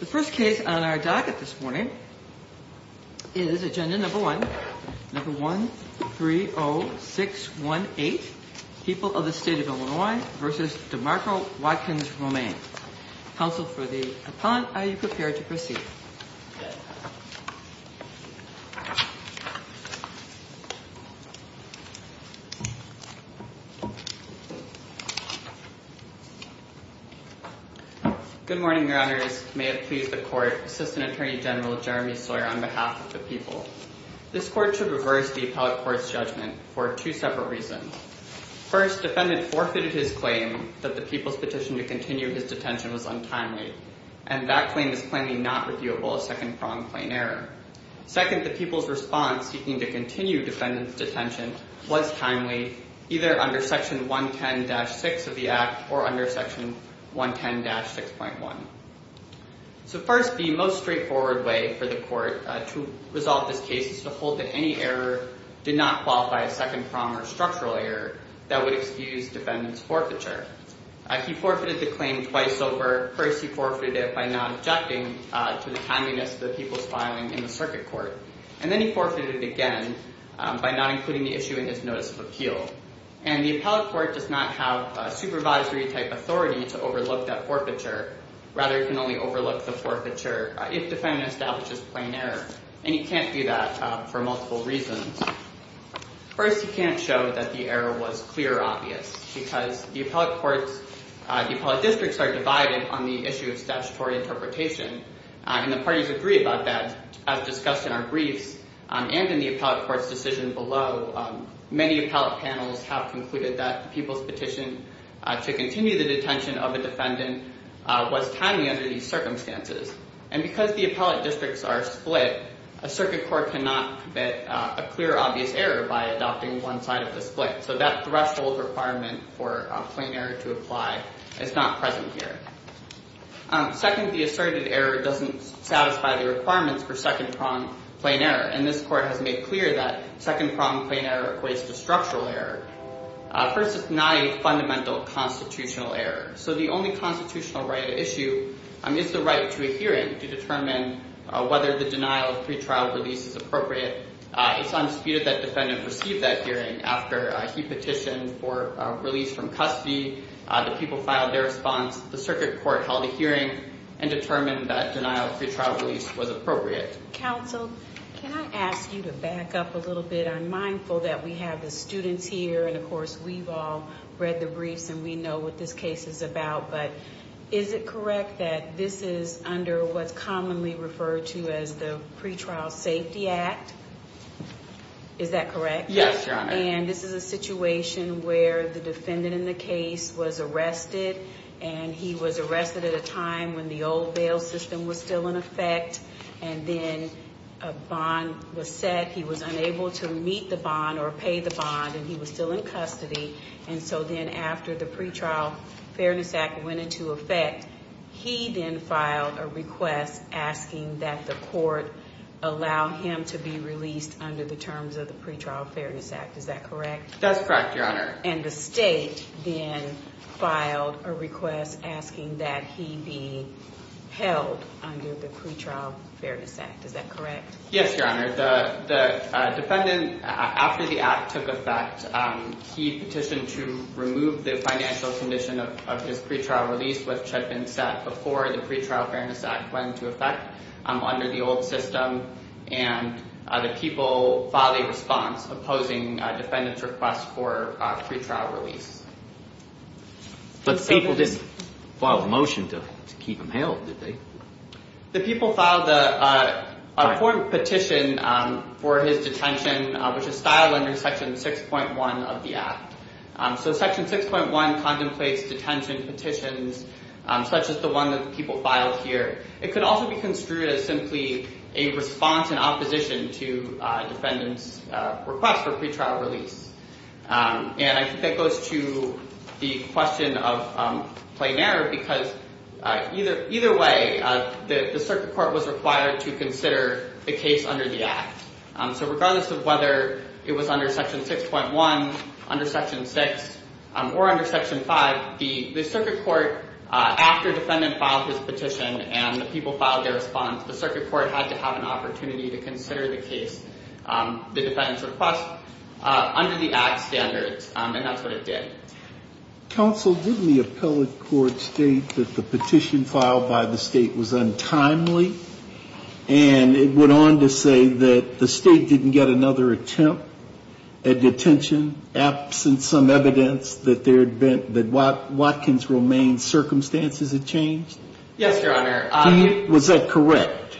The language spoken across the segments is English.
The first case on our docket this morning is agenda number one, number 130618 People of the State of Illinois v. DeMarco Watkins-Romaine. Counsel for the appellant, are you prepared to proceed? Good morning, your honors. May it please the court, Assistant Attorney General Jeremy Sawyer on behalf of the people. This court should reverse the appellate court's judgment for two separate reasons. First, defendant forfeited his claim that the people's petition to continue his detention was untimely, and that claim is plainly not reviewable as second-pronged plain error. Second, the people's response seeking to continue defendant's detention was timely, either under section 110-6 of the act or under section 110-6.1. So first, the most straightforward way for the court to resolve this case is to hold that any error did not qualify as second-pronged or structural error that would excuse defendant's forfeiture. He forfeited the claim twice over. First, he forfeited it by not objecting to the timeliness of the people's filing in the circuit court. And then he forfeited it again by not including the issue in his notice of appeal. And the appellate court does not have supervisory-type authority to overlook that forfeiture. Rather, it can only overlook the forfeiture if the defendant establishes plain error. And he can't do that for multiple reasons. First, he can't show that the error was clear or obvious because the appellate courts, the appellate districts are divided on the issue of statutory interpretation, and the parties agree about that as discussed in our briefs and in the appellate court's decision below. Many appellate panels have concluded that the people's petition to continue the detention of a defendant was timely under these circumstances. And because the appellate districts are split, a circuit court cannot commit a clear, obvious error by adopting one side of the split. So that threshold requirement for plain error to apply is not present here. Second, the asserted error doesn't satisfy the requirements for second-pronged plain error. And this court has made clear that second-pronged plain error equates to structural error. First, it's not a fundamental constitutional error. So the only constitutional right at issue is the right to a hearing to determine whether the denial of pretrial release is appropriate. It's undisputed that the defendant received that hearing after he petitioned for release from custody. The people filed their response. The circuit court held a hearing and determined that denial of pretrial release was appropriate. Counsel, can I ask you to back up a little bit? I'm mindful that we have the students here, and, of course, we've all read the briefs and we know what this case is about. But is it correct that this is under what's commonly referred to as the Pretrial Safety Act? Is that correct? Yes, Your Honor. And this is a situation where the defendant in the case was arrested, and he was arrested at a time when the old bail system was still in effect, and then a bond was set. He was unable to meet the bond or pay the bond, and he was still in custody. And so then after the Pretrial Fairness Act went into effect, he then filed a request asking that the court allow him to be released under the terms of the Pretrial Fairness Act. Is that correct? That's correct, Your Honor. And the state then filed a request asking that he be held under the Pretrial Fairness Act. Is that correct? Yes, Your Honor. The defendant, after the act took effect, he petitioned to remove the financial condition of his pretrial release, which had been set before the Pretrial Fairness Act went into effect under the old system, and the people filed a response opposing the defendant's request for a pretrial release. But the people didn't file a motion to keep him held, did they? The people filed a court petition for his detention, which is styled under Section 6.1 of the act. So Section 6.1 contemplates detention petitions such as the one that people filed here. It could also be construed as simply a response in opposition to defendant's request for pretrial release. And I think that goes to the question of plain error because either way, the circuit court was required to consider the case under the act. So regardless of whether it was under Section 6.1, under Section 6, or under Section 5, the circuit court, after defendant filed his petition and the people filed their response, the circuit court had to have an opportunity to consider the case, the defendant's request. Under the act standards, and that's what it did. Counsel, didn't the appellate court state that the petition filed by the state was untimely? And it went on to say that the state didn't get another attempt at detention, absent some evidence that Watkins' remain circumstances had changed? Yes, Your Honor. Was that correct?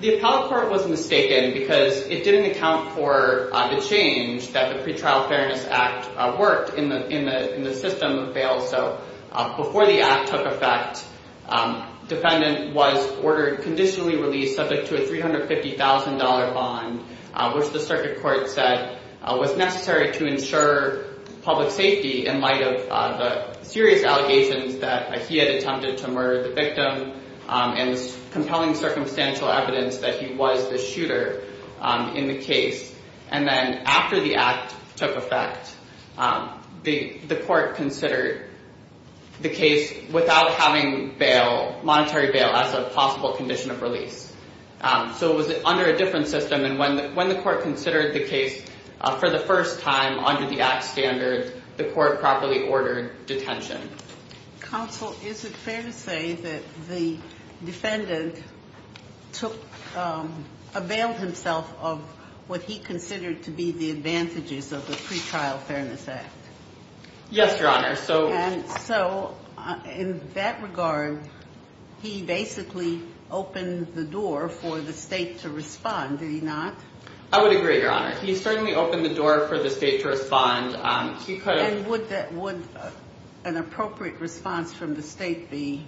The appellate court was mistaken because it didn't account for the change that the Pretrial Fairness Act worked in the system of bail. So before the act took effect, defendant was ordered conditionally released subject to a $350,000 bond, which the circuit court said was necessary to ensure public safety in light of the serious allegations that he had attempted to murder the victim and compelling circumstantial evidence that he was the shooter in the case. And then after the act took effect, the court considered the case without having bail, monetary bail, as a possible condition of release. So it was under a different system, and when the court considered the case for the first time under the act standard, the court properly ordered detention. Counsel, is it fair to say that the defendant took a bail himself of what he considered to be the advantages of the Pretrial Fairness Act? Yes, Your Honor. And so in that regard, he basically opened the door for the state to respond, did he not? I would agree, Your Honor. He certainly opened the door for the state to respond. And would an appropriate response from the state be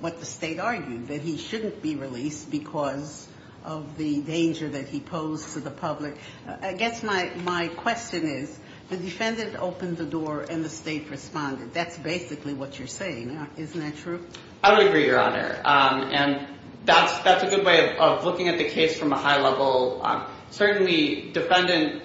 what the state argued, that he shouldn't be released because of the danger that he posed to the public? I guess my question is, the defendant opened the door and the state responded. That's basically what you're saying, isn't that true? I would agree, Your Honor, and that's a good way of looking at the case from a high level. Certainly, defendant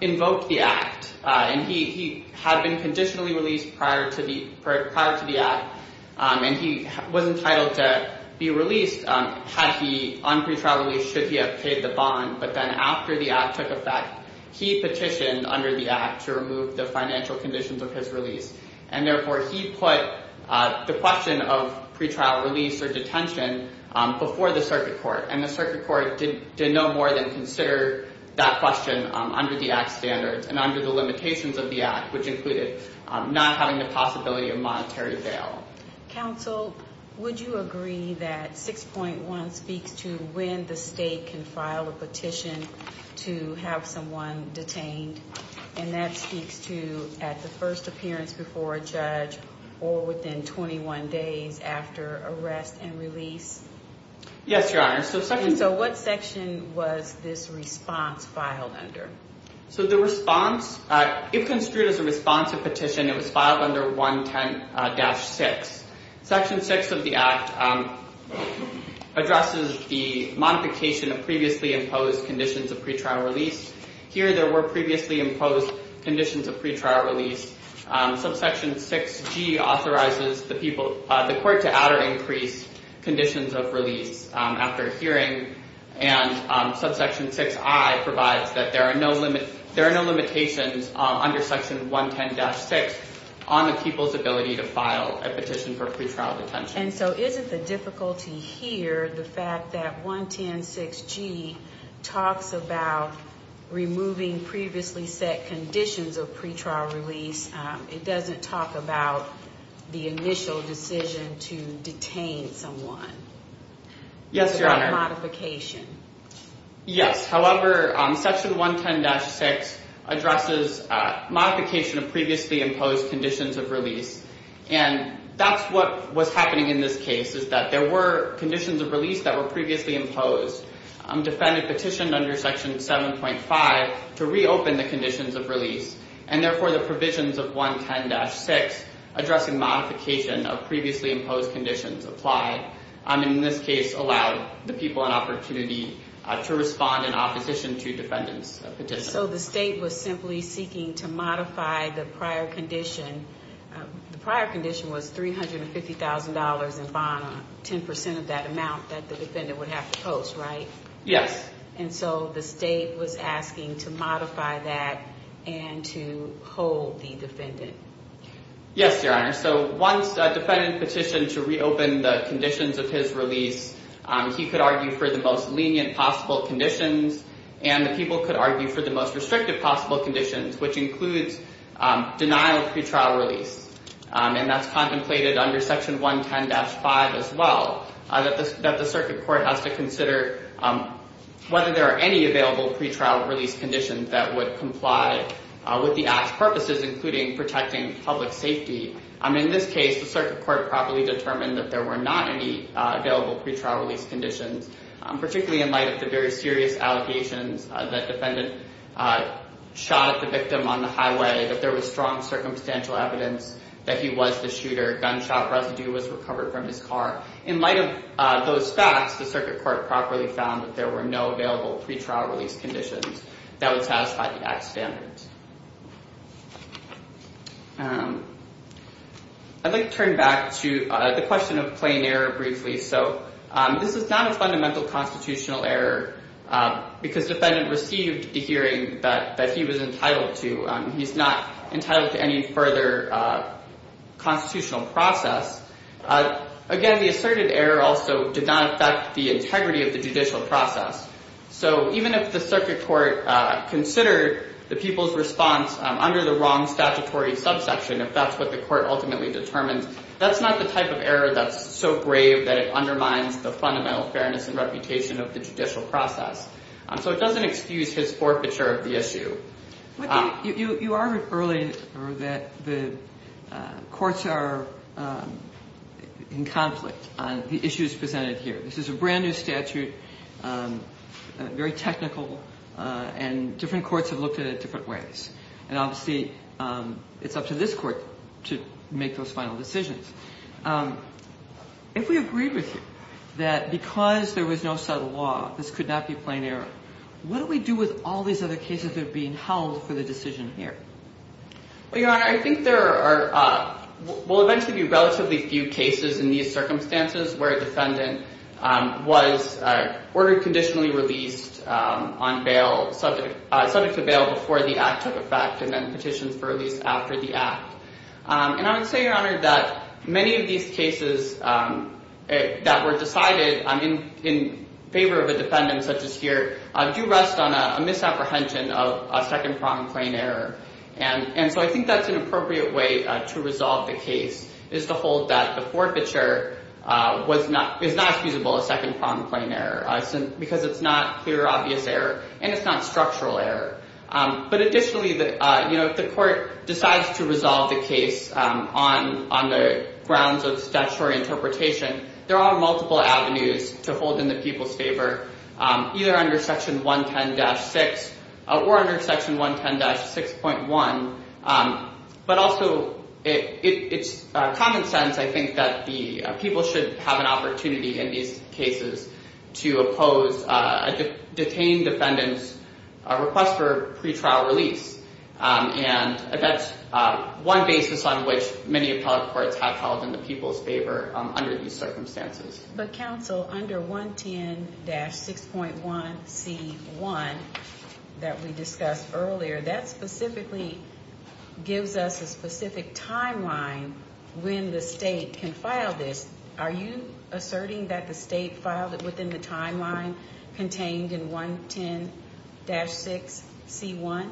invoked the act, and he had been conditionally released prior to the act, and he was entitled to be released on pretrial release should he have paid the bond. But then after the act took effect, he petitioned under the act to remove the financial conditions of his release, and therefore he put the question of pretrial release or detention before the circuit court, and the circuit court did no more than consider that question under the act's standards and under the limitations of the act, which included not having the possibility of monetary bail. Counsel, would you agree that 6.1 speaks to when the state can file a petition to have someone detained, and that speaks to at the first appearance before a judge or within 21 days after arrest and release? Yes, Your Honor. So what section was this response filed under? So the response, if construed as a responsive petition, it was filed under 110-6. Section 6 of the act addresses the modification of previously imposed conditions of pretrial release. Here there were previously imposed conditions of pretrial release. Subsection 6G authorizes the court to add or increase conditions of release after hearing, and subsection 6I provides that there are no limitations under section 110-6 on the people's ability to file a petition for pretrial detention. And so isn't the difficulty here the fact that 110-6G talks about removing previously set conditions of pretrial release? It doesn't talk about the initial decision to detain someone. Yes, Your Honor. It's about modification. Yes. However, section 110-6 addresses modification of previously imposed conditions of release, and that's what was happening in this case is that there were conditions of release that were previously imposed. Defendant petitioned under section 7.5 to reopen the conditions of release, and therefore the provisions of 110-6 addressing modification of previously imposed conditions apply, and in this case allowed the people an opportunity to respond in opposition to defendant's petition. So the state was simply seeking to modify the prior condition. The prior condition was $350,000 in bond, 10 percent of that amount that the defendant would have to post, right? Yes. And so the state was asking to modify that and to hold the defendant. Yes, Your Honor. So once a defendant petitioned to reopen the conditions of his release, he could argue for the most lenient possible conditions, and the people could argue for the most restrictive possible conditions, which includes denial of pretrial release, and that's contemplated under section 110-5 as well, that the circuit court has to consider whether there are any available pretrial release conditions that would comply with the act's purposes, including protecting public safety. In this case, the circuit court properly determined that there were not any available pretrial release conditions, particularly in light of the very serious allegations that defendant shot at the victim on the highway, that there was strong circumstantial evidence that he was the shooter, gunshot residue was recovered from his car. In light of those facts, the circuit court properly found that there were no available pretrial release conditions that would satisfy the act's standards. I'd like to turn back to the question of plain error briefly. So this is not a fundamental constitutional error because the defendant received the hearing that he was entitled to. He's not entitled to any further constitutional process. Again, the asserted error also did not affect the integrity of the judicial process. So even if the circuit court considered the people's response under the wrong statutory subsection, if that's what the court ultimately determines, that's not the type of error that's so grave that it undermines the fundamental fairness and reputation of the judicial process. So it doesn't excuse his forfeiture of the issue. But you argued earlier that the courts are in conflict on the issues presented here. This is a brand-new statute, very technical, and different courts have looked at it different ways. And obviously, it's up to this Court to make those final decisions. If we agreed with you that because there was no subtle law, this could not be plain error, what do we do with all these other cases that are being held for the decision here? Well, Your Honor, I think there are – will eventually be relatively few cases in these circumstances where a defendant was ordered conditionally released on bail – subject to bail before the act took effect and then petitioned for release after the act. And I would say, Your Honor, that many of these cases that were decided in favor of a defendant such as here do rest on a misapprehension of a second-pronged plain error. And so I think that's an appropriate way to resolve the case, is to hold that the forfeiture is not accusable of second-pronged plain error because it's not clear, obvious error, and it's not structural error. But additionally, if the Court decides to resolve the case on the grounds of statutory interpretation, there are multiple avenues to hold in the people's favor, either under Section 110-6 or under Section 110-6.1. But also, it's common sense, I think, that the people should have an opportunity in these cases to oppose a detained defendant's request for pretrial release. And that's one basis on which many appellate courts have held in the people's favor under these circumstances. But, Counsel, under 110-6.1c1 that we discussed earlier, that specifically gives us a specific timeline when the state can file this. Are you asserting that the state filed it within the timeline contained in 110-6c1?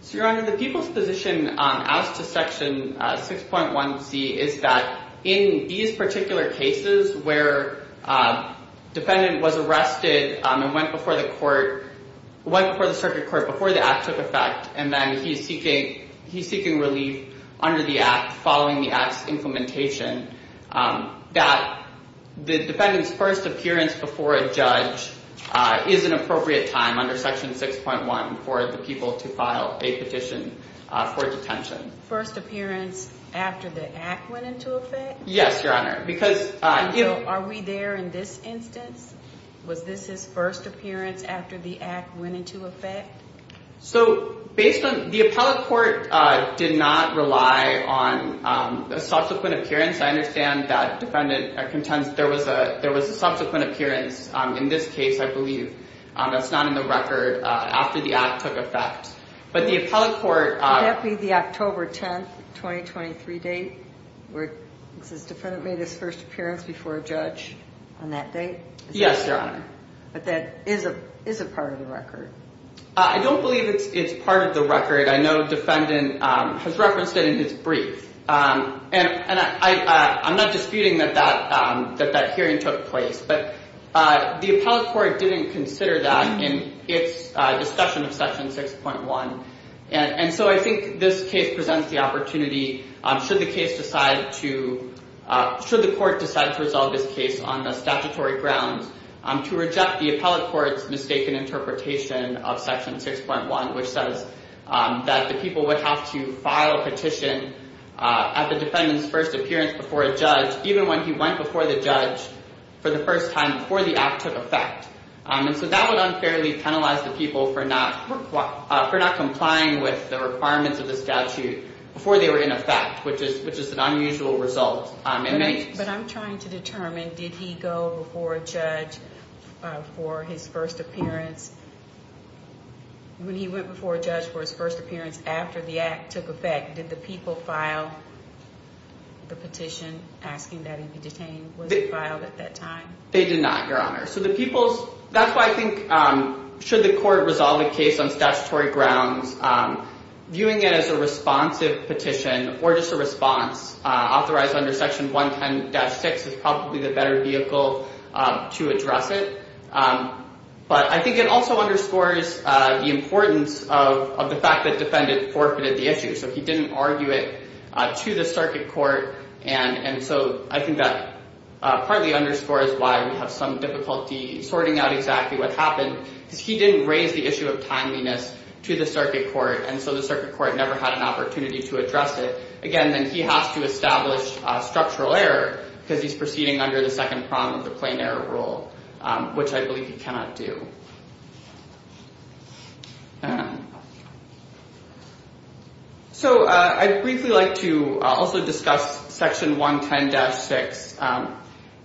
So, Your Honor, the people's position as to Section 6.1c is that in these particular cases where a defendant was arrested and went before the Circuit Court before the Act took effect, and then he's seeking relief under the Act following the Act's implementation, that the defendant's first appearance before a judge is an appropriate time under Section 6.1 for the people to file a petition for detention. First appearance after the Act went into effect? Yes, Your Honor. Are we there in this instance? Was this his first appearance after the Act went into effect? So, the appellate court did not rely on a subsequent appearance. I understand that there was a subsequent appearance in this case, I believe. That's not in the record after the Act took effect. Could that be the October 10, 2023 date, where this defendant made his first appearance before a judge on that date? Yes, Your Honor. But that is a part of the record. I don't believe it's part of the record. I know the defendant has referenced it in his brief. And I'm not disputing that that hearing took place, but the appellate court didn't consider that in its discussion of Section 6.1. And so I think this case presents the opportunity, should the court decide to resolve this case on the statutory grounds, to reject the appellate court's mistaken interpretation of Section 6.1, which says that the people would have to file a petition at the defendant's first appearance before a judge, even when he went before the judge for the first time before the Act took effect. And so that would unfairly penalize the people for not complying with the requirements of the statute before they were in effect, which is an unusual result. But I'm trying to determine, did he go before a judge for his first appearance? When he went before a judge for his first appearance after the Act took effect, did the people file the petition asking that he be detained? Was it filed at that time? They did not, Your Honor. So the people's—that's why I think, should the court resolve a case on statutory grounds, viewing it as a responsive petition or just a response, authorized under Section 110-6 is probably the better vehicle to address it. But I think it also underscores the importance of the fact that the defendant forfeited the issue. So he didn't argue it to the circuit court, and so I think that partly underscores why we have some difficulty sorting out exactly what happened, because he didn't raise the issue of timeliness to the circuit court, and so the circuit court never had an opportunity to address it. Again, then he has to establish structural error because he's proceeding under the second prong of the plain error rule, which I believe he cannot do. So I'd briefly like to also discuss Section 110-6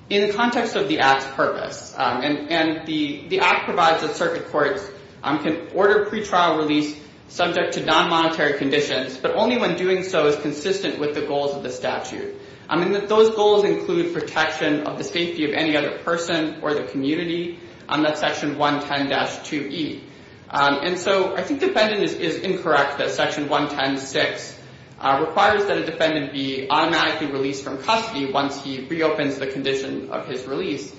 in the context of the Act's purpose. And the Act provides that circuit courts can order pretrial release subject to non-monetary conditions, but only when doing so is consistent with the goals of the statute. I mean, those goals include protection of the safety of any other person or the community, and that's Section 110-2E. And so I think the defendant is incorrect that Section 110-6 requires that a defendant be automatically released from custody once he reopens the condition of his release.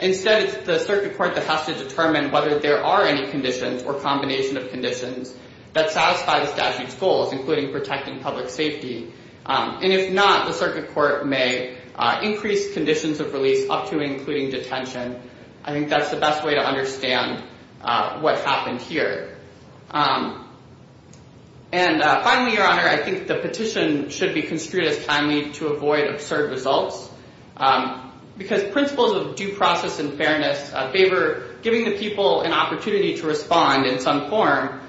Instead, it's the circuit court that has to determine whether there are any conditions or combination of conditions that satisfy the statute's goals, including protecting public safety. And if not, the circuit court may increase conditions of release up to and including detention. I think that's the best way to understand what happened here. And finally, Your Honor, I think the petition should be construed as timely to avoid absurd results because principles of due process and fairness favor giving the people an opportunity to respond in some form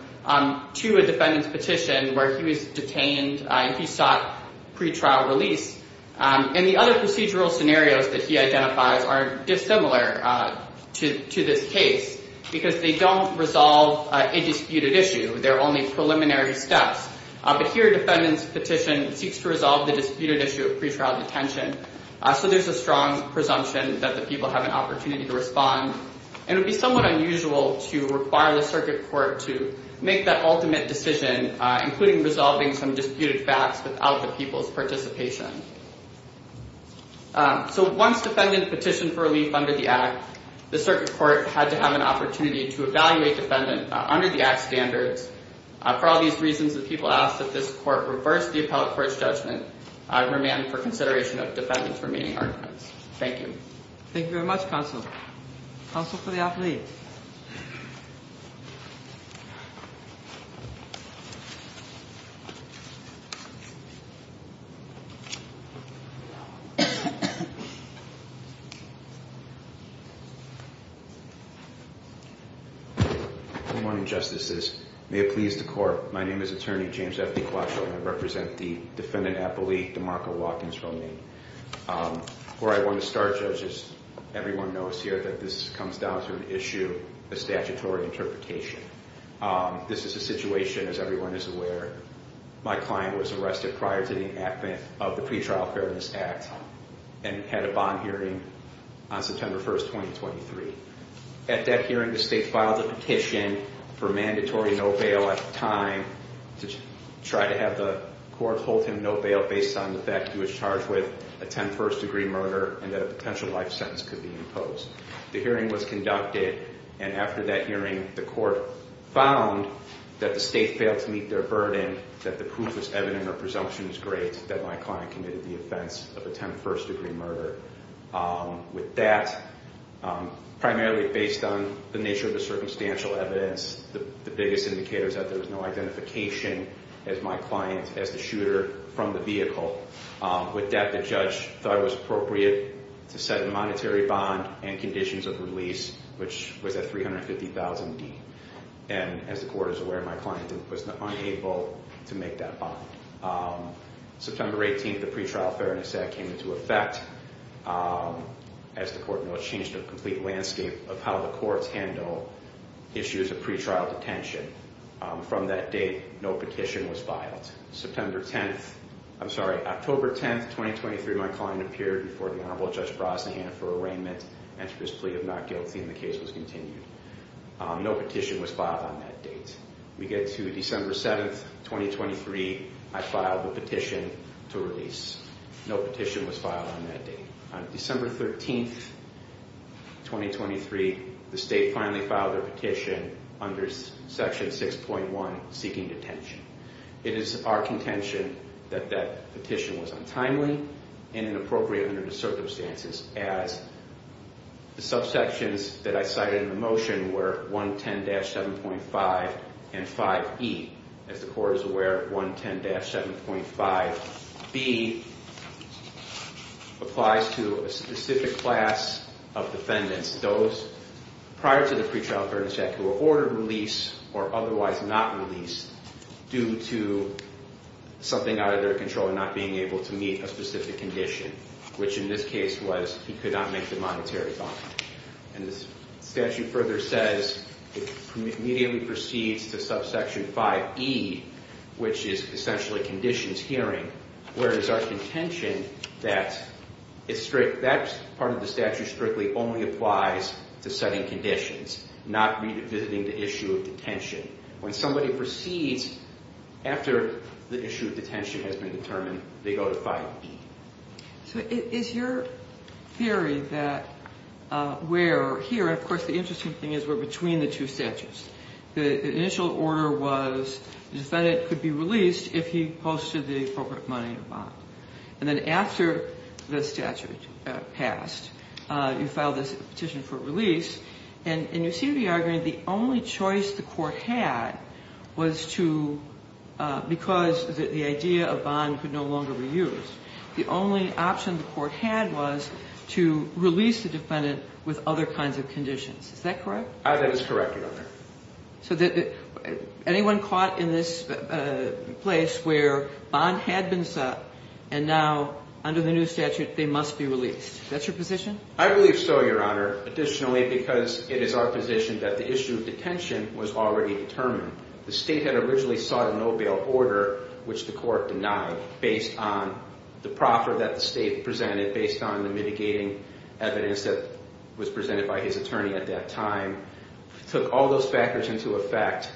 to a defendant's petition where he was detained and he sought pretrial release. And the other procedural scenarios that he identifies are dissimilar to this case because they don't resolve a disputed issue. They're only preliminary steps. But here, a defendant's petition seeks to resolve the disputed issue of pretrial detention. So there's a strong presumption that the people have an opportunity to respond. And it would be somewhat unusual to require the circuit court to make that ultimate decision, including resolving some disputed facts without the people's participation. So once defendant petitioned for relief under the Act, the circuit court had to have an opportunity to evaluate defendant under the Act standards. For all these reasons, the people ask that this court reverse the appellate court's judgment and remand for consideration of defendant's remaining arguments. Thank you. Thank you very much, counsel. Counsel for the appellate. Good morning, Justices. May it please the court, my name is Attorney James F. DiQuascio and I represent the defendant appellate, DeMarco Watkins, from Maine. Where I want to start, judges, everyone knows here that this comes down to an issue of statutory interpretation. This is a situation, as everyone is aware, my client was arrested prior to the enactment of the Pretrial Fairness Act and had a bond hearing on September 1, 2023. At that hearing, the state filed a petition for mandatory no bail at the time to try to have the court hold him no bail based on the fact he was charged with a ten-first-degree murder and that a potential life sentence could be imposed. The hearing was conducted, and after that hearing, the court found that the state failed to meet their burden, that the proof was evident or presumption was great, that my client committed the offense of a ten-first-degree murder. With that, primarily based on the nature of the circumstantial evidence, the biggest indicator is that there was no identification as my client, as the shooter, from the vehicle. With that, the judge thought it was appropriate to set a monetary bond and conditions of release, which was at $350,000, and as the court is aware, my client was unable to make that bond. September 18, the Pretrial Fairness Act came into effect. As the court knows, it changed the complete landscape of how the courts handle issues of pretrial detention. From that date, no petition was filed. September 10, I'm sorry, October 10, 2023, my client appeared before the Honorable Judge Brosnahan for arraignment and for his plea of not guilty, and the case was continued. No petition was filed on that date. We get to December 7, 2023, I filed the petition to release. No petition was filed on that date. On December 13, 2023, the state finally filed their petition under Section 6.1, Seeking Detention. It is our contention that that petition was untimely and inappropriate under the circumstances, as the subsections that I cited in the motion were 110-7.5 and 5E. As the court is aware, 110-7.5B applies to a specific class of defendants, those prior to the Pretrial Fairness Act who were ordered release or otherwise not released due to something out of their control and not being able to meet a specific condition, which in this case was he could not make the monetary bond. And the statute further says it immediately proceeds to subsection 5E, which is essentially conditions hearing, where it is our contention that that part of the statute strictly only applies to setting conditions, not revisiting the issue of detention. When somebody proceeds after the issue of detention has been determined, they go to 5E. So is your theory that we're here, and of course the interesting thing is we're between the two statutes. The initial order was the defendant could be released if he posted the appropriate money in a bond. And then after the statute passed, you filed this petition for release, and you see the argument the only choice the court had was to, because the idea of bond could no longer be used, the only option the court had was to release the defendant with other kinds of conditions. Is that correct? That is correct, Your Honor. So anyone caught in this place where bond had been set and now under the new statute they must be released, is that your position? I believe so, Your Honor, additionally because it is our position that the issue of detention was already determined. The state had originally sought a no bail order, which the court denied, based on the proffer that the state presented, based on the mitigating evidence that was presented by his attorney at that time, took all those factors into effect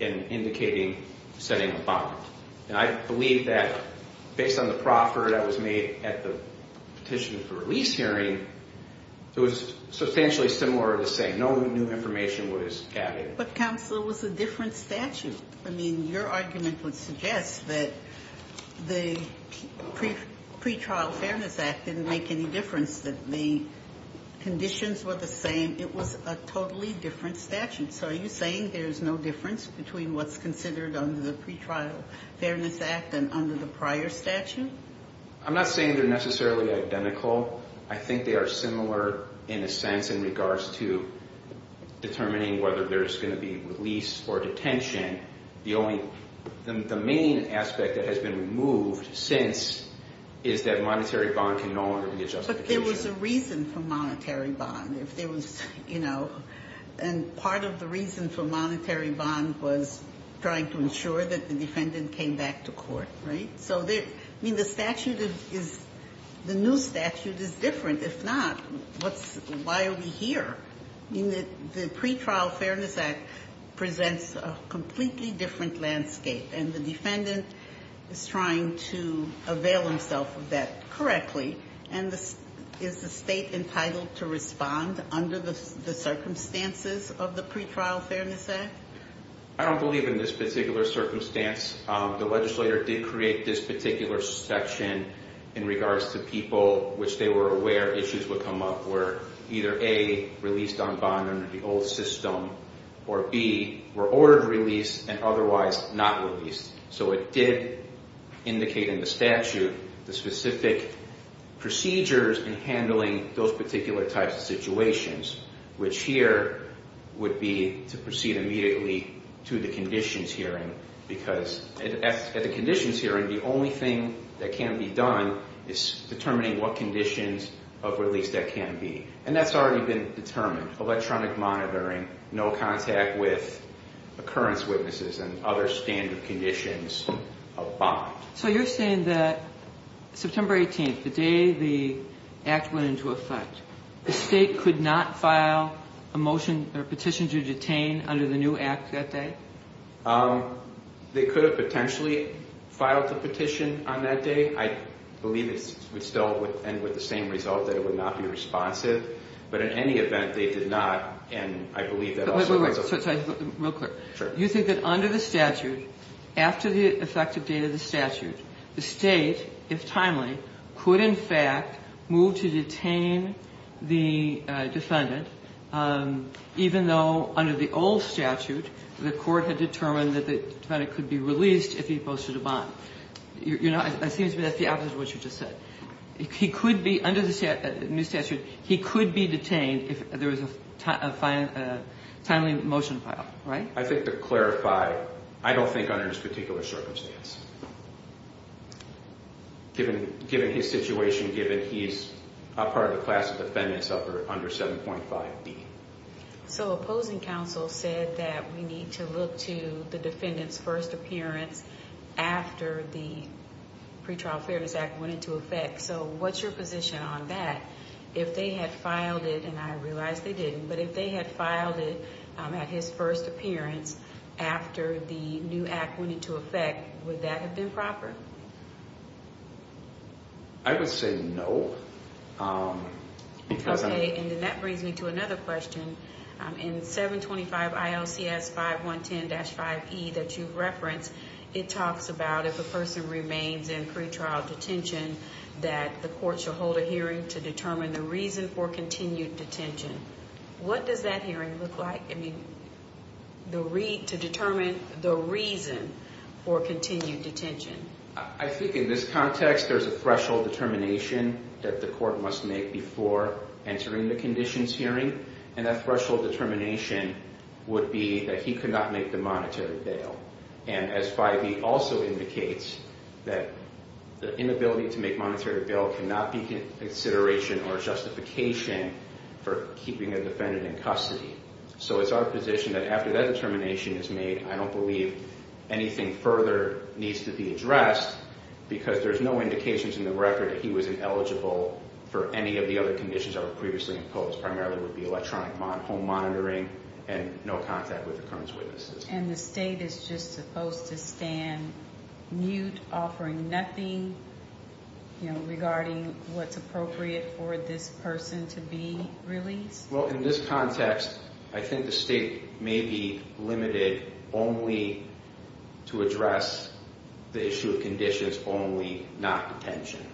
in indicating setting a bond. And I believe that based on the proffer that was made at the petition for release hearing, it was substantially similar to say no new information was added. But counsel, it was a different statute. I mean, your argument would suggest that the Pretrial Fairness Act didn't make any difference, that the conditions were the same. It was a totally different statute. So are you saying there's no difference between what's considered under the Pretrial Fairness Act and under the prior statute? I'm not saying they're necessarily identical. I think they are similar in a sense in regards to determining whether there's going to be release or detention. The main aspect that has been removed since is that monetary bond can no longer be a justification. But there was a reason for monetary bond. If there was, you know, and part of the reason for monetary bond was trying to ensure that the defendant came back to court, right? So, I mean, the statute is, the new statute is different. If not, why are we here? I mean, the Pretrial Fairness Act presents a completely different landscape. And the defendant is trying to avail himself of that correctly. And is the state entitled to respond under the circumstances of the Pretrial Fairness Act? I don't believe in this particular circumstance. The legislator did create this particular section in regards to people which they were aware issues would come up, where either A, released on bond under the old system, or B, were ordered release and otherwise not released. So it did indicate in the statute the specific procedures in handling those particular types of situations, which here would be to proceed immediately to the conditions hearing. Because at the conditions hearing, the only thing that can be done is determining what conditions of release that can be. And that's already been determined. Electronic monitoring, no contact with occurrence witnesses and other standard conditions of bond. So you're saying that September 18th, the day the act went into effect, the state could not file a motion or petition to detain under the new act that day? They could have potentially filed the petition on that day. I believe it would still end with the same result, that it would not be responsive. But in any event, they did not. And I believe that also goes with the statute. You think that under the statute, after the effective date of the statute, the State, if timely, could in fact move to detain the defendant, even though under the old statute, the court had determined that the defendant could be released if he posted a bond. You know, it seems to me that's the opposite of what you just said. He could be, under the new statute, he could be detained if there was a timely motion filed, right? I think to clarify, I don't think under this particular circumstance, given his situation, given he's a part of the class of defendants under 7.5B. So opposing counsel said that we need to look to the defendant's first appearance after the Pretrial Fairness Act went into effect. So what's your position on that? If they had filed it, and I realize they didn't, but if they had filed it at his first appearance after the new act went into effect, would that have been proper? I would say no. Okay, and then that brings me to another question. In 725 ILCS 5110-5E that you've referenced, it talks about if a person remains in pretrial detention, that the court should hold a hearing to determine the reason for continued detention. What does that hearing look like? I mean, to determine the reason for continued detention. I think in this context there's a threshold determination that the court must make before entering the conditions hearing, and that threshold determination would be that he could not make the monetary bail. And as 5E also indicates, that the inability to make monetary bail cannot be consideration or justification for keeping a defendant in custody. So it's our position that after that determination is made, I don't believe anything further needs to be addressed, because there's no indications in the record that he was ineligible for any of the other conditions that were previously imposed. Primarily it would be electronic home monitoring and no contact with the current witnesses. And the state is just supposed to stand mute, offering nothing regarding what's appropriate for this person to be released? Well, in this context, I think the state may be limited only to address the issue of conditions only, not detention.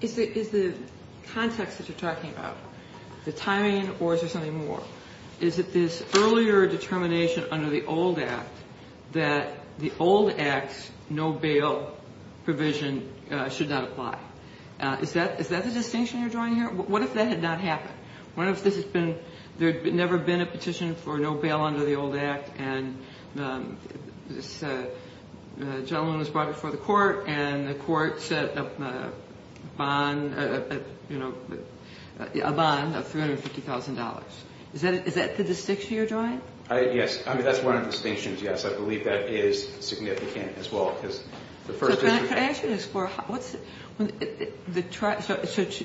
Is the context that you're talking about, the timing, or is there something more? Is it this earlier determination under the old Act that the old Act's no bail provision should not apply? Is that the distinction you're drawing here? What if that had not happened? What if there had never been a petition for no bail under the old Act and this gentleman was brought before the court and the court set up a bond of $350,000. Is that the distinction you're drawing? Yes. I mean, that's one of the distinctions, yes. I believe that is significant as well. So can I ask you this?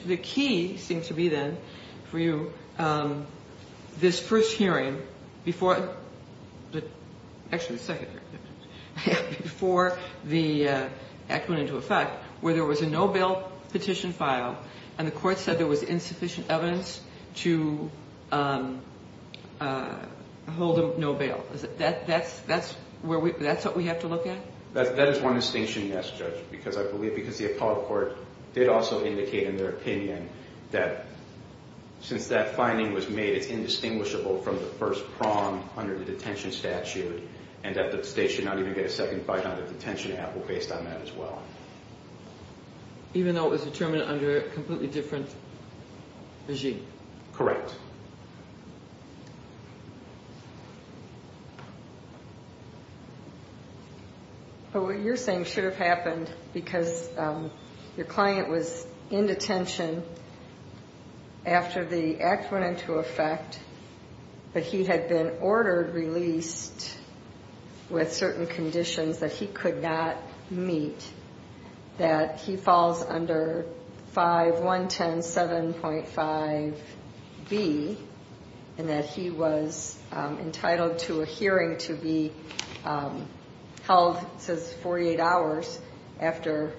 The key seems to be, then, for you, this first hearing before the act went into effect where there was a no bail petition filed and the court said there was insufficient evidence to hold him no bail. That's what we have to look at? That is one distinction, yes, Judge, because I believe the appellate court did also indicate in their opinion that since that finding was made, it's indistinguishable from the first prong under the detention statute and that the state should not even get a second bite on the detention app based on that as well. Even though it was determined under a completely different regime? Correct. But what you're saying should have happened because your client was in detention after the act went into effect, but he had been ordered released with certain conditions that he could not meet, that he falls under 5110.7.5b and that he was entitled to a hearing to be held, it says 48 hours, after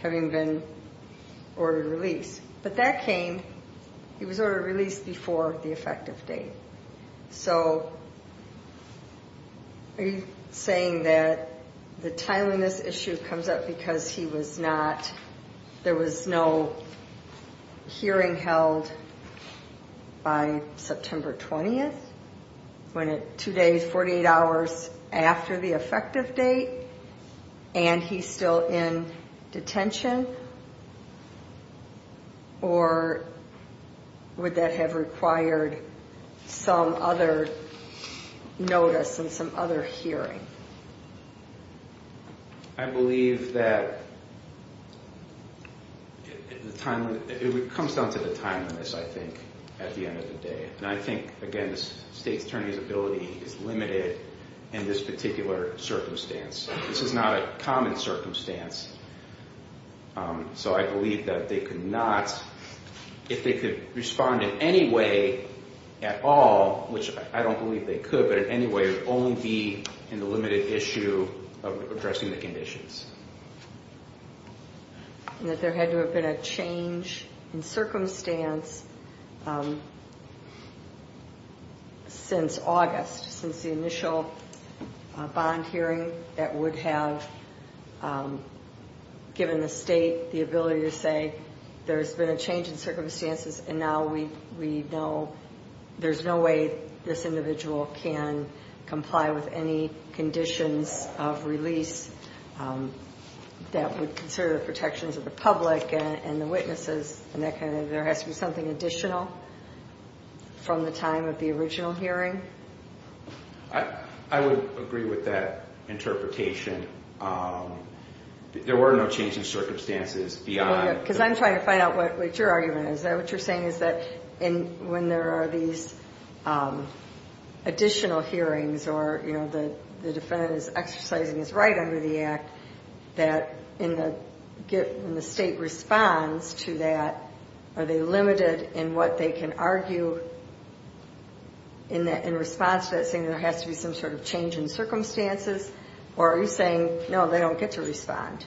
having been ordered released. But that came, he was ordered released before the effective date. So are you saying that the time on this issue comes up because he was not, there was no hearing held by September 20th, when at two days, 48 hours after the effective date, and he's still in detention? Or would that have required some other notice and some other hearing? I believe that it comes down to the time on this, I think, at the end of the day. And I think, again, the state attorney's ability is limited in this particular circumstance. This is not a common circumstance. So I believe that they could not, if they could respond in any way at all, which I don't believe they could, but in any way, it would only be in the limited issue of addressing the conditions. And that there had to have been a change in circumstance since August, since the initial bond hearing that would have given the state the ability to say, there's been a change in circumstances, and now we know there's no way this individual can comply with any conditions of release that would consider the protections of the public and the witnesses, and there has to be something additional from the time of the original hearing. I would agree with that interpretation. There were no changes in circumstances beyond... Because I'm trying to find out what your argument is. What you're saying is that when there are these additional hearings, or the defendant is exercising his right under the Act, that in the state response to that, are they limited in what they can argue in response to that, saying there has to be some sort of change in circumstances, or are you saying, no, they don't get to respond?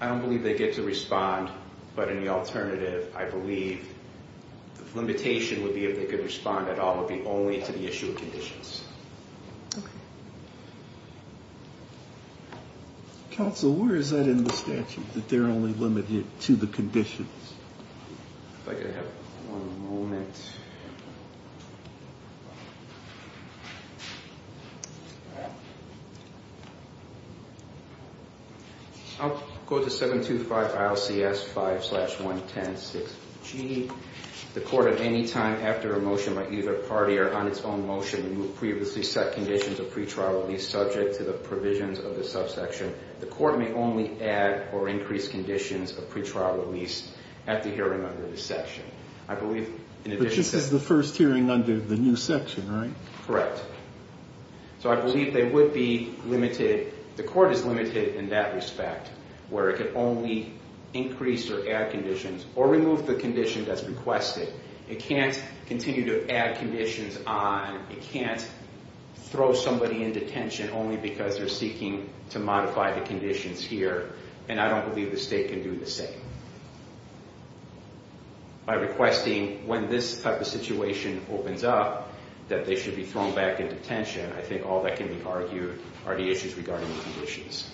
I don't believe they get to respond, but in the alternative, I believe the limitation would be if they could respond at all would be only to the issue of conditions. Counsel, where is that in the statute, that they're only limited to the conditions? If I could have one moment. I'll go to 725 ILCS 5-1106G. The court at any time after a motion by either party or on its own motion previously set conditions of pretrial release subject to the provisions of the subsection, the court may only add or increase conditions of pretrial release at the hearing under the section. But this is the first hearing under the new section, right? Correct. So I believe they would be limited... The court is limited in that respect, where it can only increase or add conditions, or remove the condition that's requested. It can't continue to add conditions on. It can't throw somebody into detention only because they're seeking to modify the conditions here, and I don't believe the state can do the same. By requesting, when this type of situation opens up, that they should be thrown back into detention, I think all that can be argued are the issues regarding the conditions.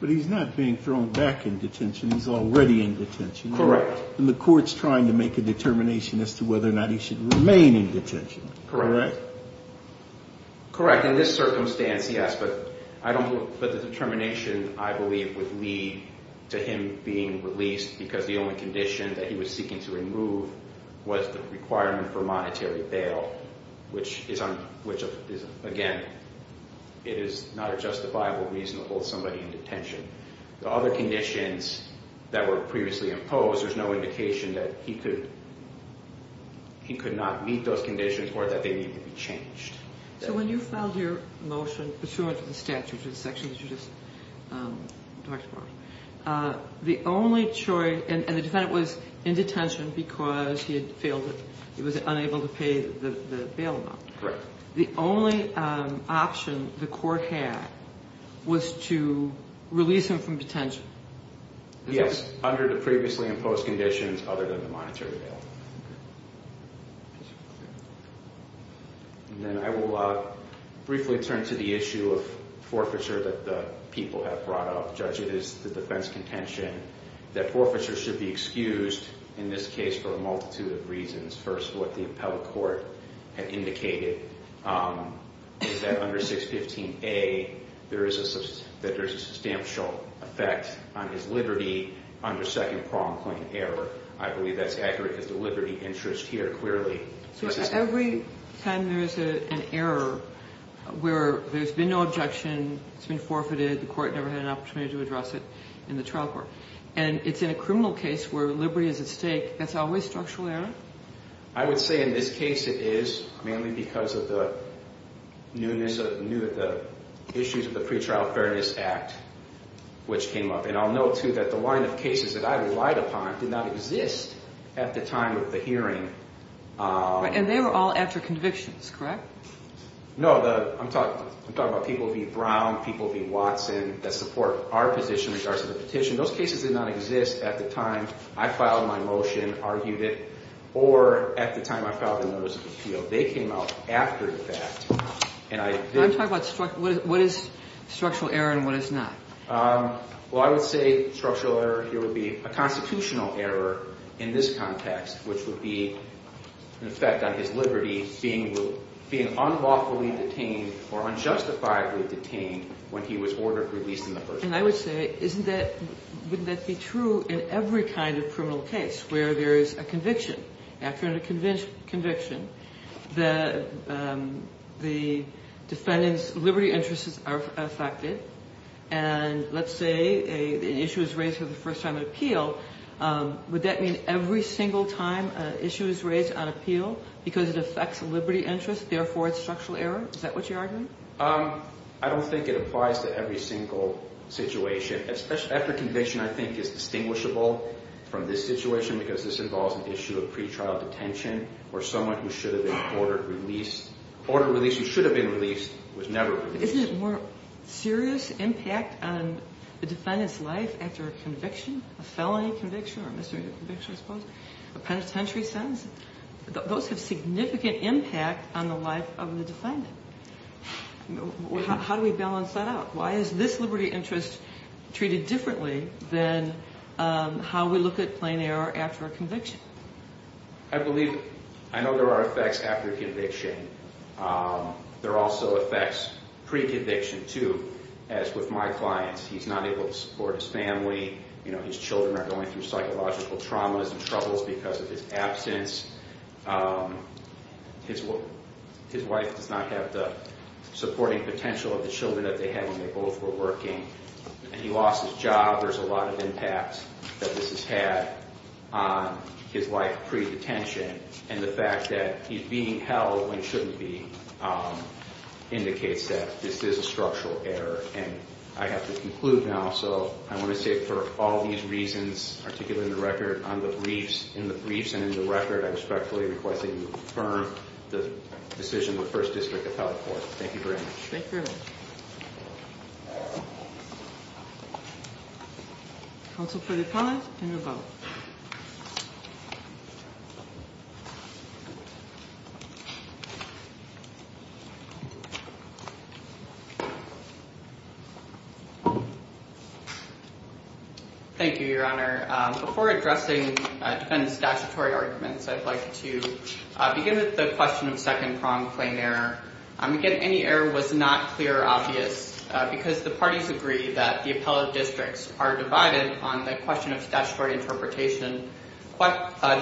But he's not being thrown back into detention. He's already in detention. Correct. And the court's trying to make a determination as to whether or not he should remain in detention. Correct. Correct. In this circumstance, yes, but the determination, I believe, would lead to him being released because the only condition that he was seeking to remove was the requirement for monetary bail, which is, again, it is not a justifiable reason to hold somebody in detention. The other conditions that were previously imposed, there's no indication that he could not meet those conditions or that they need to be changed. So when you filed your motion pursuant to the statute, the section that you just talked about, the only choice, and the defendant was in detention because he was unable to pay the bail amount. Correct. The only option the court had was to release him from detention. Yes, under the previously imposed conditions other than the monetary bail. And then I will briefly turn to the issue of forfeiture that the people have brought up. Judge, it is the defense contention that forfeiture should be excused in this case for a multitude of reasons. First, what the appellate court had indicated is that under 615A there is a substantial effect on his liberty under second prong claim error. I believe that's accurate because the liberty interest here clearly... So every time there is an error where there's been no objection, it's been forfeited, the court never had an opportunity to address it in the trial court, and it's in a criminal case where liberty is at stake, that's always structural error? I would say in this case it is mainly because of the issues of the Pretrial Fairness Act, which came up. And I'll note, too, that the line of cases that I relied upon did not exist at the time of the hearing. And they were all after convictions, correct? No, I'm talking about people v. Brown, people v. Watson, that support our position in regards to the petition. Those cases did not exist at the time I filed my motion, argued it, or at the time I filed a notice of appeal. They came out after the fact. I'm talking about what is structural error and what is not. Well, I would say structural error here would be a constitutional error in this context, which would be an effect on his liberty being unlawfully detained or unjustifiably detained when he was ordered released in the first place. And I would say, wouldn't that be true in every kind of criminal case where there is a conviction? After a conviction, the defendant's liberty interests are affected, and let's say an issue is raised for the first time at appeal, would that mean every single time an issue is raised on appeal because it affects liberty interests, therefore it's structural error? Is that what you're arguing? I don't think it applies to every single situation. After conviction, I think, is distinguishable from this situation because this involves an issue of pretrial detention or someone who should have been ordered released. Ordered release who should have been released was never released. Isn't it more serious impact on the defendant's life after a conviction, a felony conviction or a misdemeanor conviction, I suppose, a penitentiary sentence? Those have significant impact on the life of the defendant. How do we balance that out? Why is this liberty interest treated differently than how we look at plain error after a conviction? I believe I know there are effects after conviction. There are also effects pre-conviction, too, as with my clients. He's not able to support his family. His children are going through psychological traumas and troubles because of his absence. His wife does not have the supporting potential of the children that they had when they both were working, and he lost his job. There's a lot of impact that this has had on his life pre-detention, and the fact that he's being held when he shouldn't be indicates that this is a structural error. I have to conclude now. I want to say for all these reasons, particularly in the briefs and in the record, I respectfully request that you confirm the decision of the 1st District Appellate Court. Thank you very much. Thank you very much. Council further comments? Then we'll vote. Thank you. Thank you, Your Honor. Before addressing defendant's statutory arguments, I'd like to begin with the question of second-pronged plain error. Again, any error was not clear or obvious because the parties agree that the appellate districts are divided on the question of statutory interpretation. As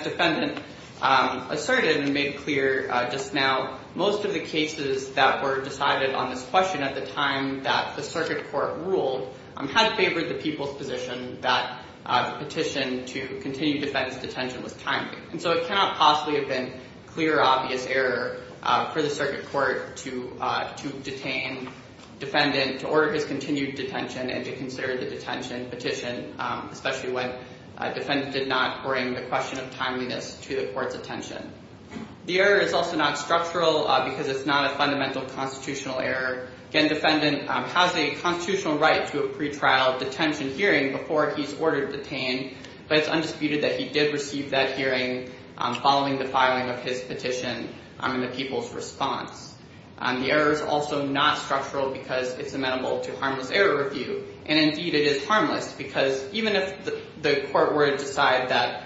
defendant asserted and made clear just now, most of the cases that were decided on this question at the time that the circuit court ruled had favored the people's position that petition to continue defendant's detention was timely. It cannot possibly have been clear or obvious error for the circuit court to detain defendant to order his continued detention and to consider the detention petition, especially when defendant did not bring the question of timeliness to the court's attention. The error is also not structural because it's not a fundamental constitutional error. Again, defendant has a constitutional right to a pretrial detention hearing before he's ordered detain, but it's undisputed that he did receive that hearing following the filing of his petition in the people's response. The error is also not structural because it's amenable to harmless error review. Indeed, it is harmless because even if the court were to decide that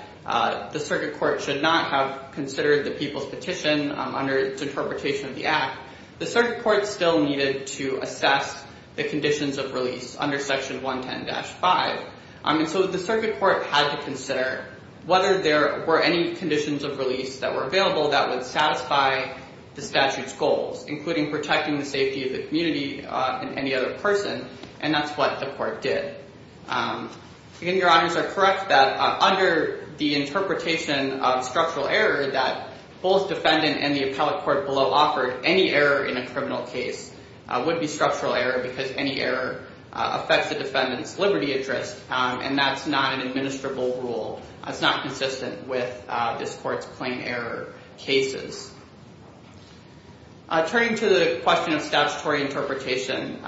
the circuit court should not have considered the people's petition under its interpretation of the act, the circuit court still needed to assess the conditions of release under Section 110-5. The circuit court had to consider whether there were any conditions of release that were available that would satisfy the statute's goals, including protecting the safety of the community and any other person, and that's what the court did. Again, your honors are correct that under the interpretation of structural error that both defendant and the appellate court below offered, any error in a criminal case would be structural error because any error affects the defendant's liberty at risk, and that's not an administrable rule. It's not consistent with this court's plain error cases. Turning to the question of statutory interpretation,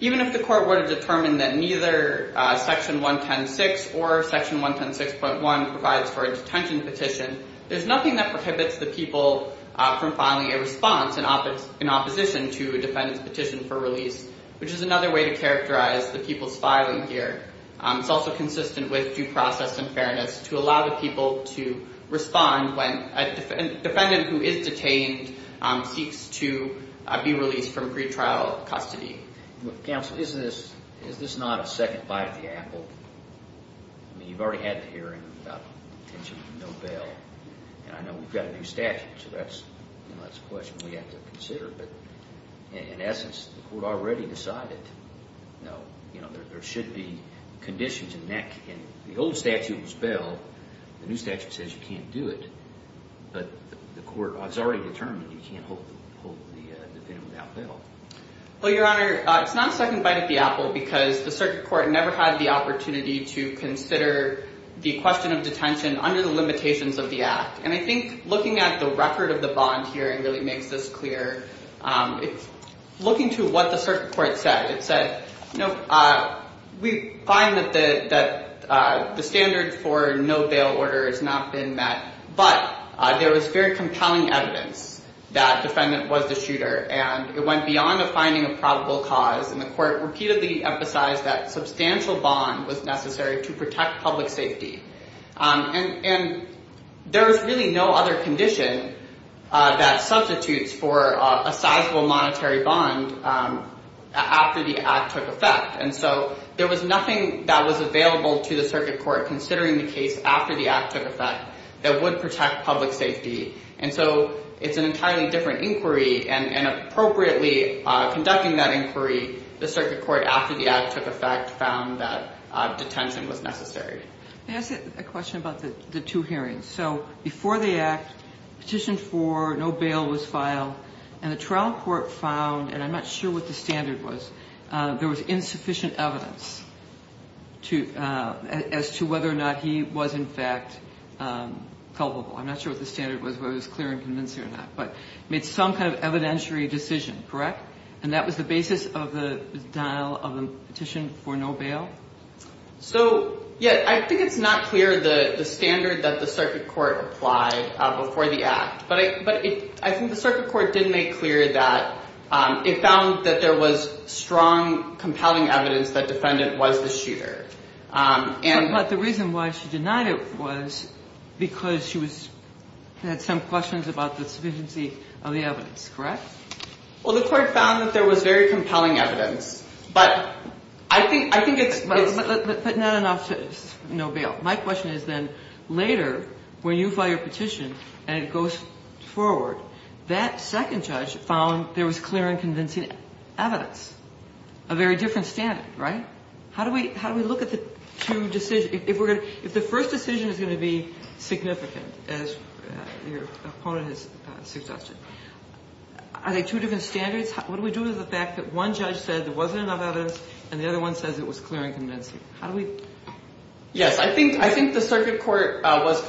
even if the court were to determine that neither Section 110-6 or Section 110-6.1 provides for a detention petition, there's nothing that prohibits the people from filing a response in opposition to a defendant's petition for release, which is another way to characterize the people's filing here. It's also consistent with due process and fairness to allow the people to respond when a defendant who is detained seeks to be released from pretrial custody. Counsel, is this not a second bite at the apple? I mean, you've already had the hearing about the intention of no bail, and I know we've got a new statute, so that's a question we have to consider, but in essence, the court already decided that there should be conditions in that case. The old statute was bail. The new statute says you can't do it, but the court has already determined you can't hold the defendant without bail. Well, Your Honor, it's not a second bite at the apple because the circuit court never had the opportunity to consider the question of detention under the limitations of the Act, and I think looking at the record of the bond hearing really makes this clear. Looking to what the circuit court said, it said, you know, we find that the standard for no bail order has not been met, but there was very compelling evidence that the defendant was the shooter, and it went beyond the finding of probable cause, and the court repeatedly emphasized that substantial bond was necessary to protect public safety. And there was really no other condition that substitutes for a sizable monetary bond after the Act took effect, and so there was nothing that was available to the circuit court considering the case after the Act took effect that would protect public safety, and so it's an entirely different inquiry, and appropriately conducting that inquiry, the circuit court, after the Act took effect, found that detention was necessary. May I ask a question about the two hearings? So before the Act, petition for no bail was filed, and the trial court found, and I'm not sure what the standard was, there was insufficient evidence as to whether or not he was, in fact, culpable. I'm not sure what the standard was, whether it was clear and convincing or not, but made some kind of evidentiary decision, correct? And that was the basis of the denial of the petition for no bail? So, yeah, I think it's not clear the standard that the circuit court applied before the Act, but I think the circuit court did make clear that it found that there was strong, compelling evidence that the defendant was the shooter. But the reason why she denied it was because she had some questions about the sufficiency of the evidence, correct? Well, the court found that there was very compelling evidence, but I think it's- But not enough to say no bail. My question is then, later, when you file your petition and it goes forward, that second judge found there was clear and convincing evidence, a very different standard, right? How do we look at the two decisions? If the first decision is going to be significant, as your opponent has suggested, are they two different standards? What do we do with the fact that one judge said there wasn't enough evidence and the other one says it was clear and convincing? How do we- Yes, I think the circuit court was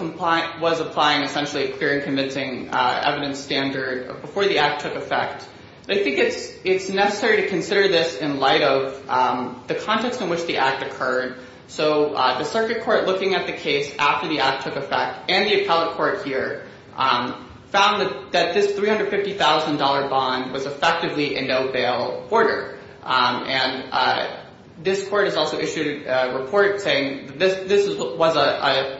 applying, essentially, a clear and convincing evidence standard before the Act took effect. I think it's necessary to consider this in light of the context in which the Act occurred. So the circuit court, looking at the case after the Act took effect, and the appellate court here, found that this $350,000 bond was effectively a no-bail order. And this court has also issued a report saying this was a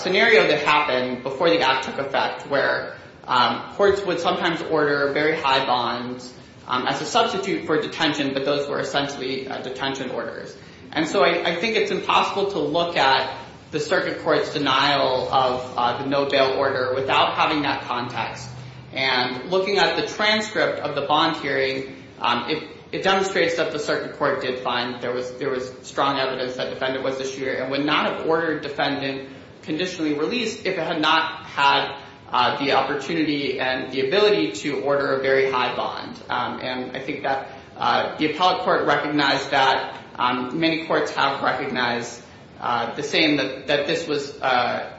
scenario that happened before the Act took effect where courts would sometimes order very high bonds as a substitute for detention, but those were essentially detention orders. And so I think it's impossible to look at the circuit court's denial of the no-bail order without having that context. And looking at the transcript of the bond hearing, it demonstrates that the circuit court did find there was strong evidence that defendant was a shooter and would not have ordered defendant conditionally released if it had not had the opportunity and the ability to order a very high bond. And I think that the appellate court recognized that. Many courts have recognized the same, that this was a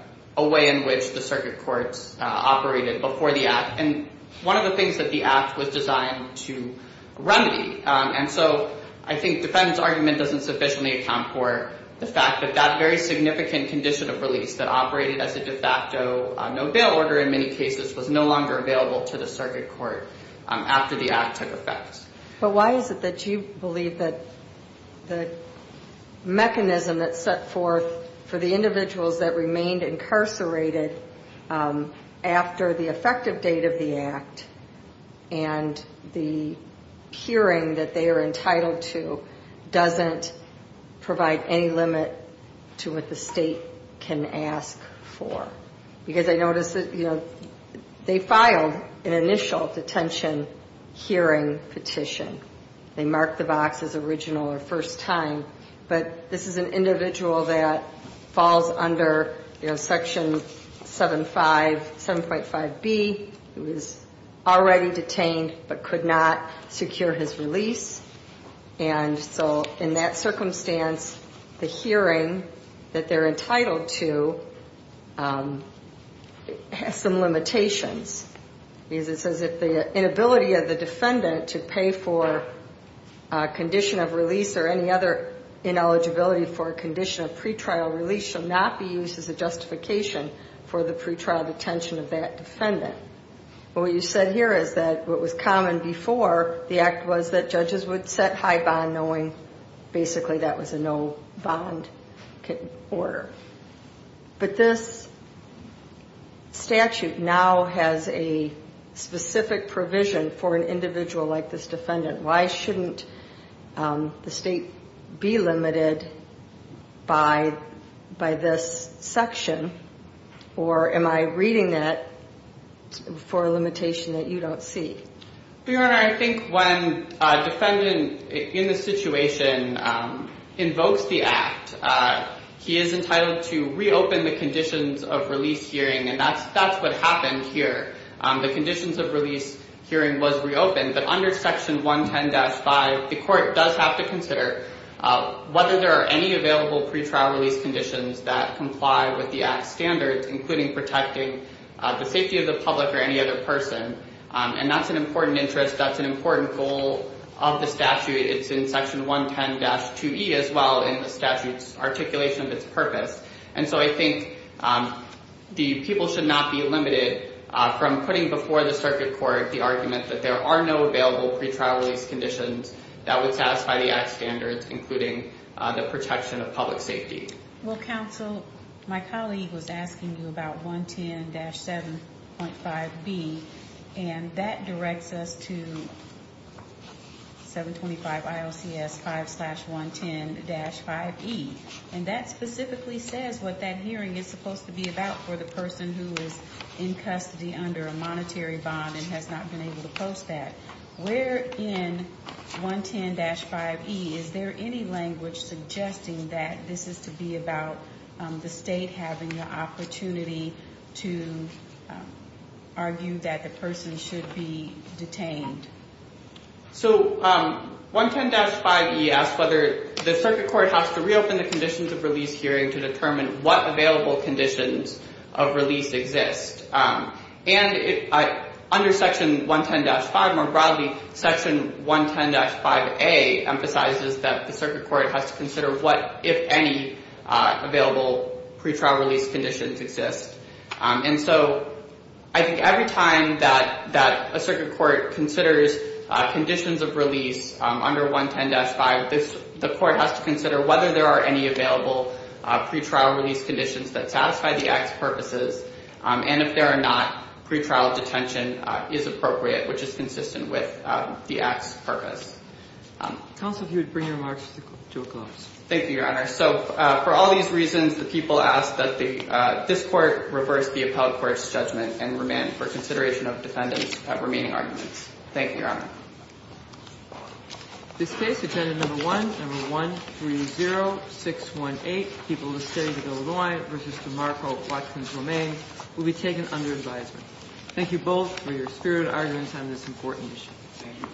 way in which the circuit courts operated before the Act. And one of the things that the Act was designed to remedy. And so I think defendant's argument doesn't sufficiently account for the fact that that very significant condition of release that operated as a de facto no-bail order in many cases was no longer available to the circuit court after the Act took effect. But why is it that you believe that the mechanism that set forth for the individuals that remained incarcerated after the effective date of the Act and the hearing that they are entitled to doesn't provide any limit to what the state can ask for? Because I notice that, you know, they filed an initial detention hearing petition. They marked the box as original or first time. But this is an individual that falls under, you know, Section 75, 7.5B, who is already detained but could not secure his release. And so in that circumstance, the hearing that they're entitled to has some limitations. It says that the inability of the defendant to pay for a condition of release or any other ineligibility for a condition of pretrial release should not be used as a justification for the pretrial detention of that defendant. What you said here is that what was common before the Act was that judges would set high bond knowing basically that was a no-bond order. But this statute now has a specific provision for an individual like this defendant. Why shouldn't the state be limited by this section? Or am I reading that for a limitation that you don't see? Your Honor, I think when a defendant in this situation invokes the Act, he is entitled to reopen the conditions of release hearing, and that's what happened here. The conditions of release hearing was reopened. But under Section 110-5, the court does have to consider whether there are any available pretrial release conditions that comply with the Act's standards, including protecting the safety of the public or any other person. And that's an important interest. That's an important goal of the statute. It's in Section 110-2e as well in the statute's articulation of its purpose. And so I think the people should not be limited from putting before the circuit court the argument that there are no available pretrial release conditions that would satisfy the Act's standards, including the protection of public safety. Well, counsel, my colleague was asking you about 110-7.5b, and that directs us to 725 IOCS 5-110-5e. And that specifically says what that hearing is supposed to be about for the person who is in custody under a monetary bond and has not been able to post that. Where in 110-5e is there any language suggesting that this is to be about the state having the opportunity to argue that the person should be detained? So 110-5e asks whether the circuit court has to reopen the conditions of release hearing to determine what available conditions of release exist. And under Section 110-5, more broadly, Section 110-5a emphasizes that the circuit court has to consider what, if any, available pretrial release conditions exist. And so I think every time that a circuit court considers conditions of release under 110-5, the court has to consider whether there are any available pretrial release conditions that satisfy the Act's purposes, and if there are not, pretrial detention is appropriate, which is consistent with the Act's purpose. Counsel, if you would bring your remarks to a close. Thank you, Your Honor. So for all these reasons, the people ask that this Court reverse the appellate court's judgment and remain for consideration of defendant's remaining arguments. Thank you, Your Honor. This case, Agenda Number 1, Number 130618, People of the State of Illinois v. DeMarco Watson-Tomei, will be taken under advisement. Thank you both for your spirited arguments on this important issue. Thank you.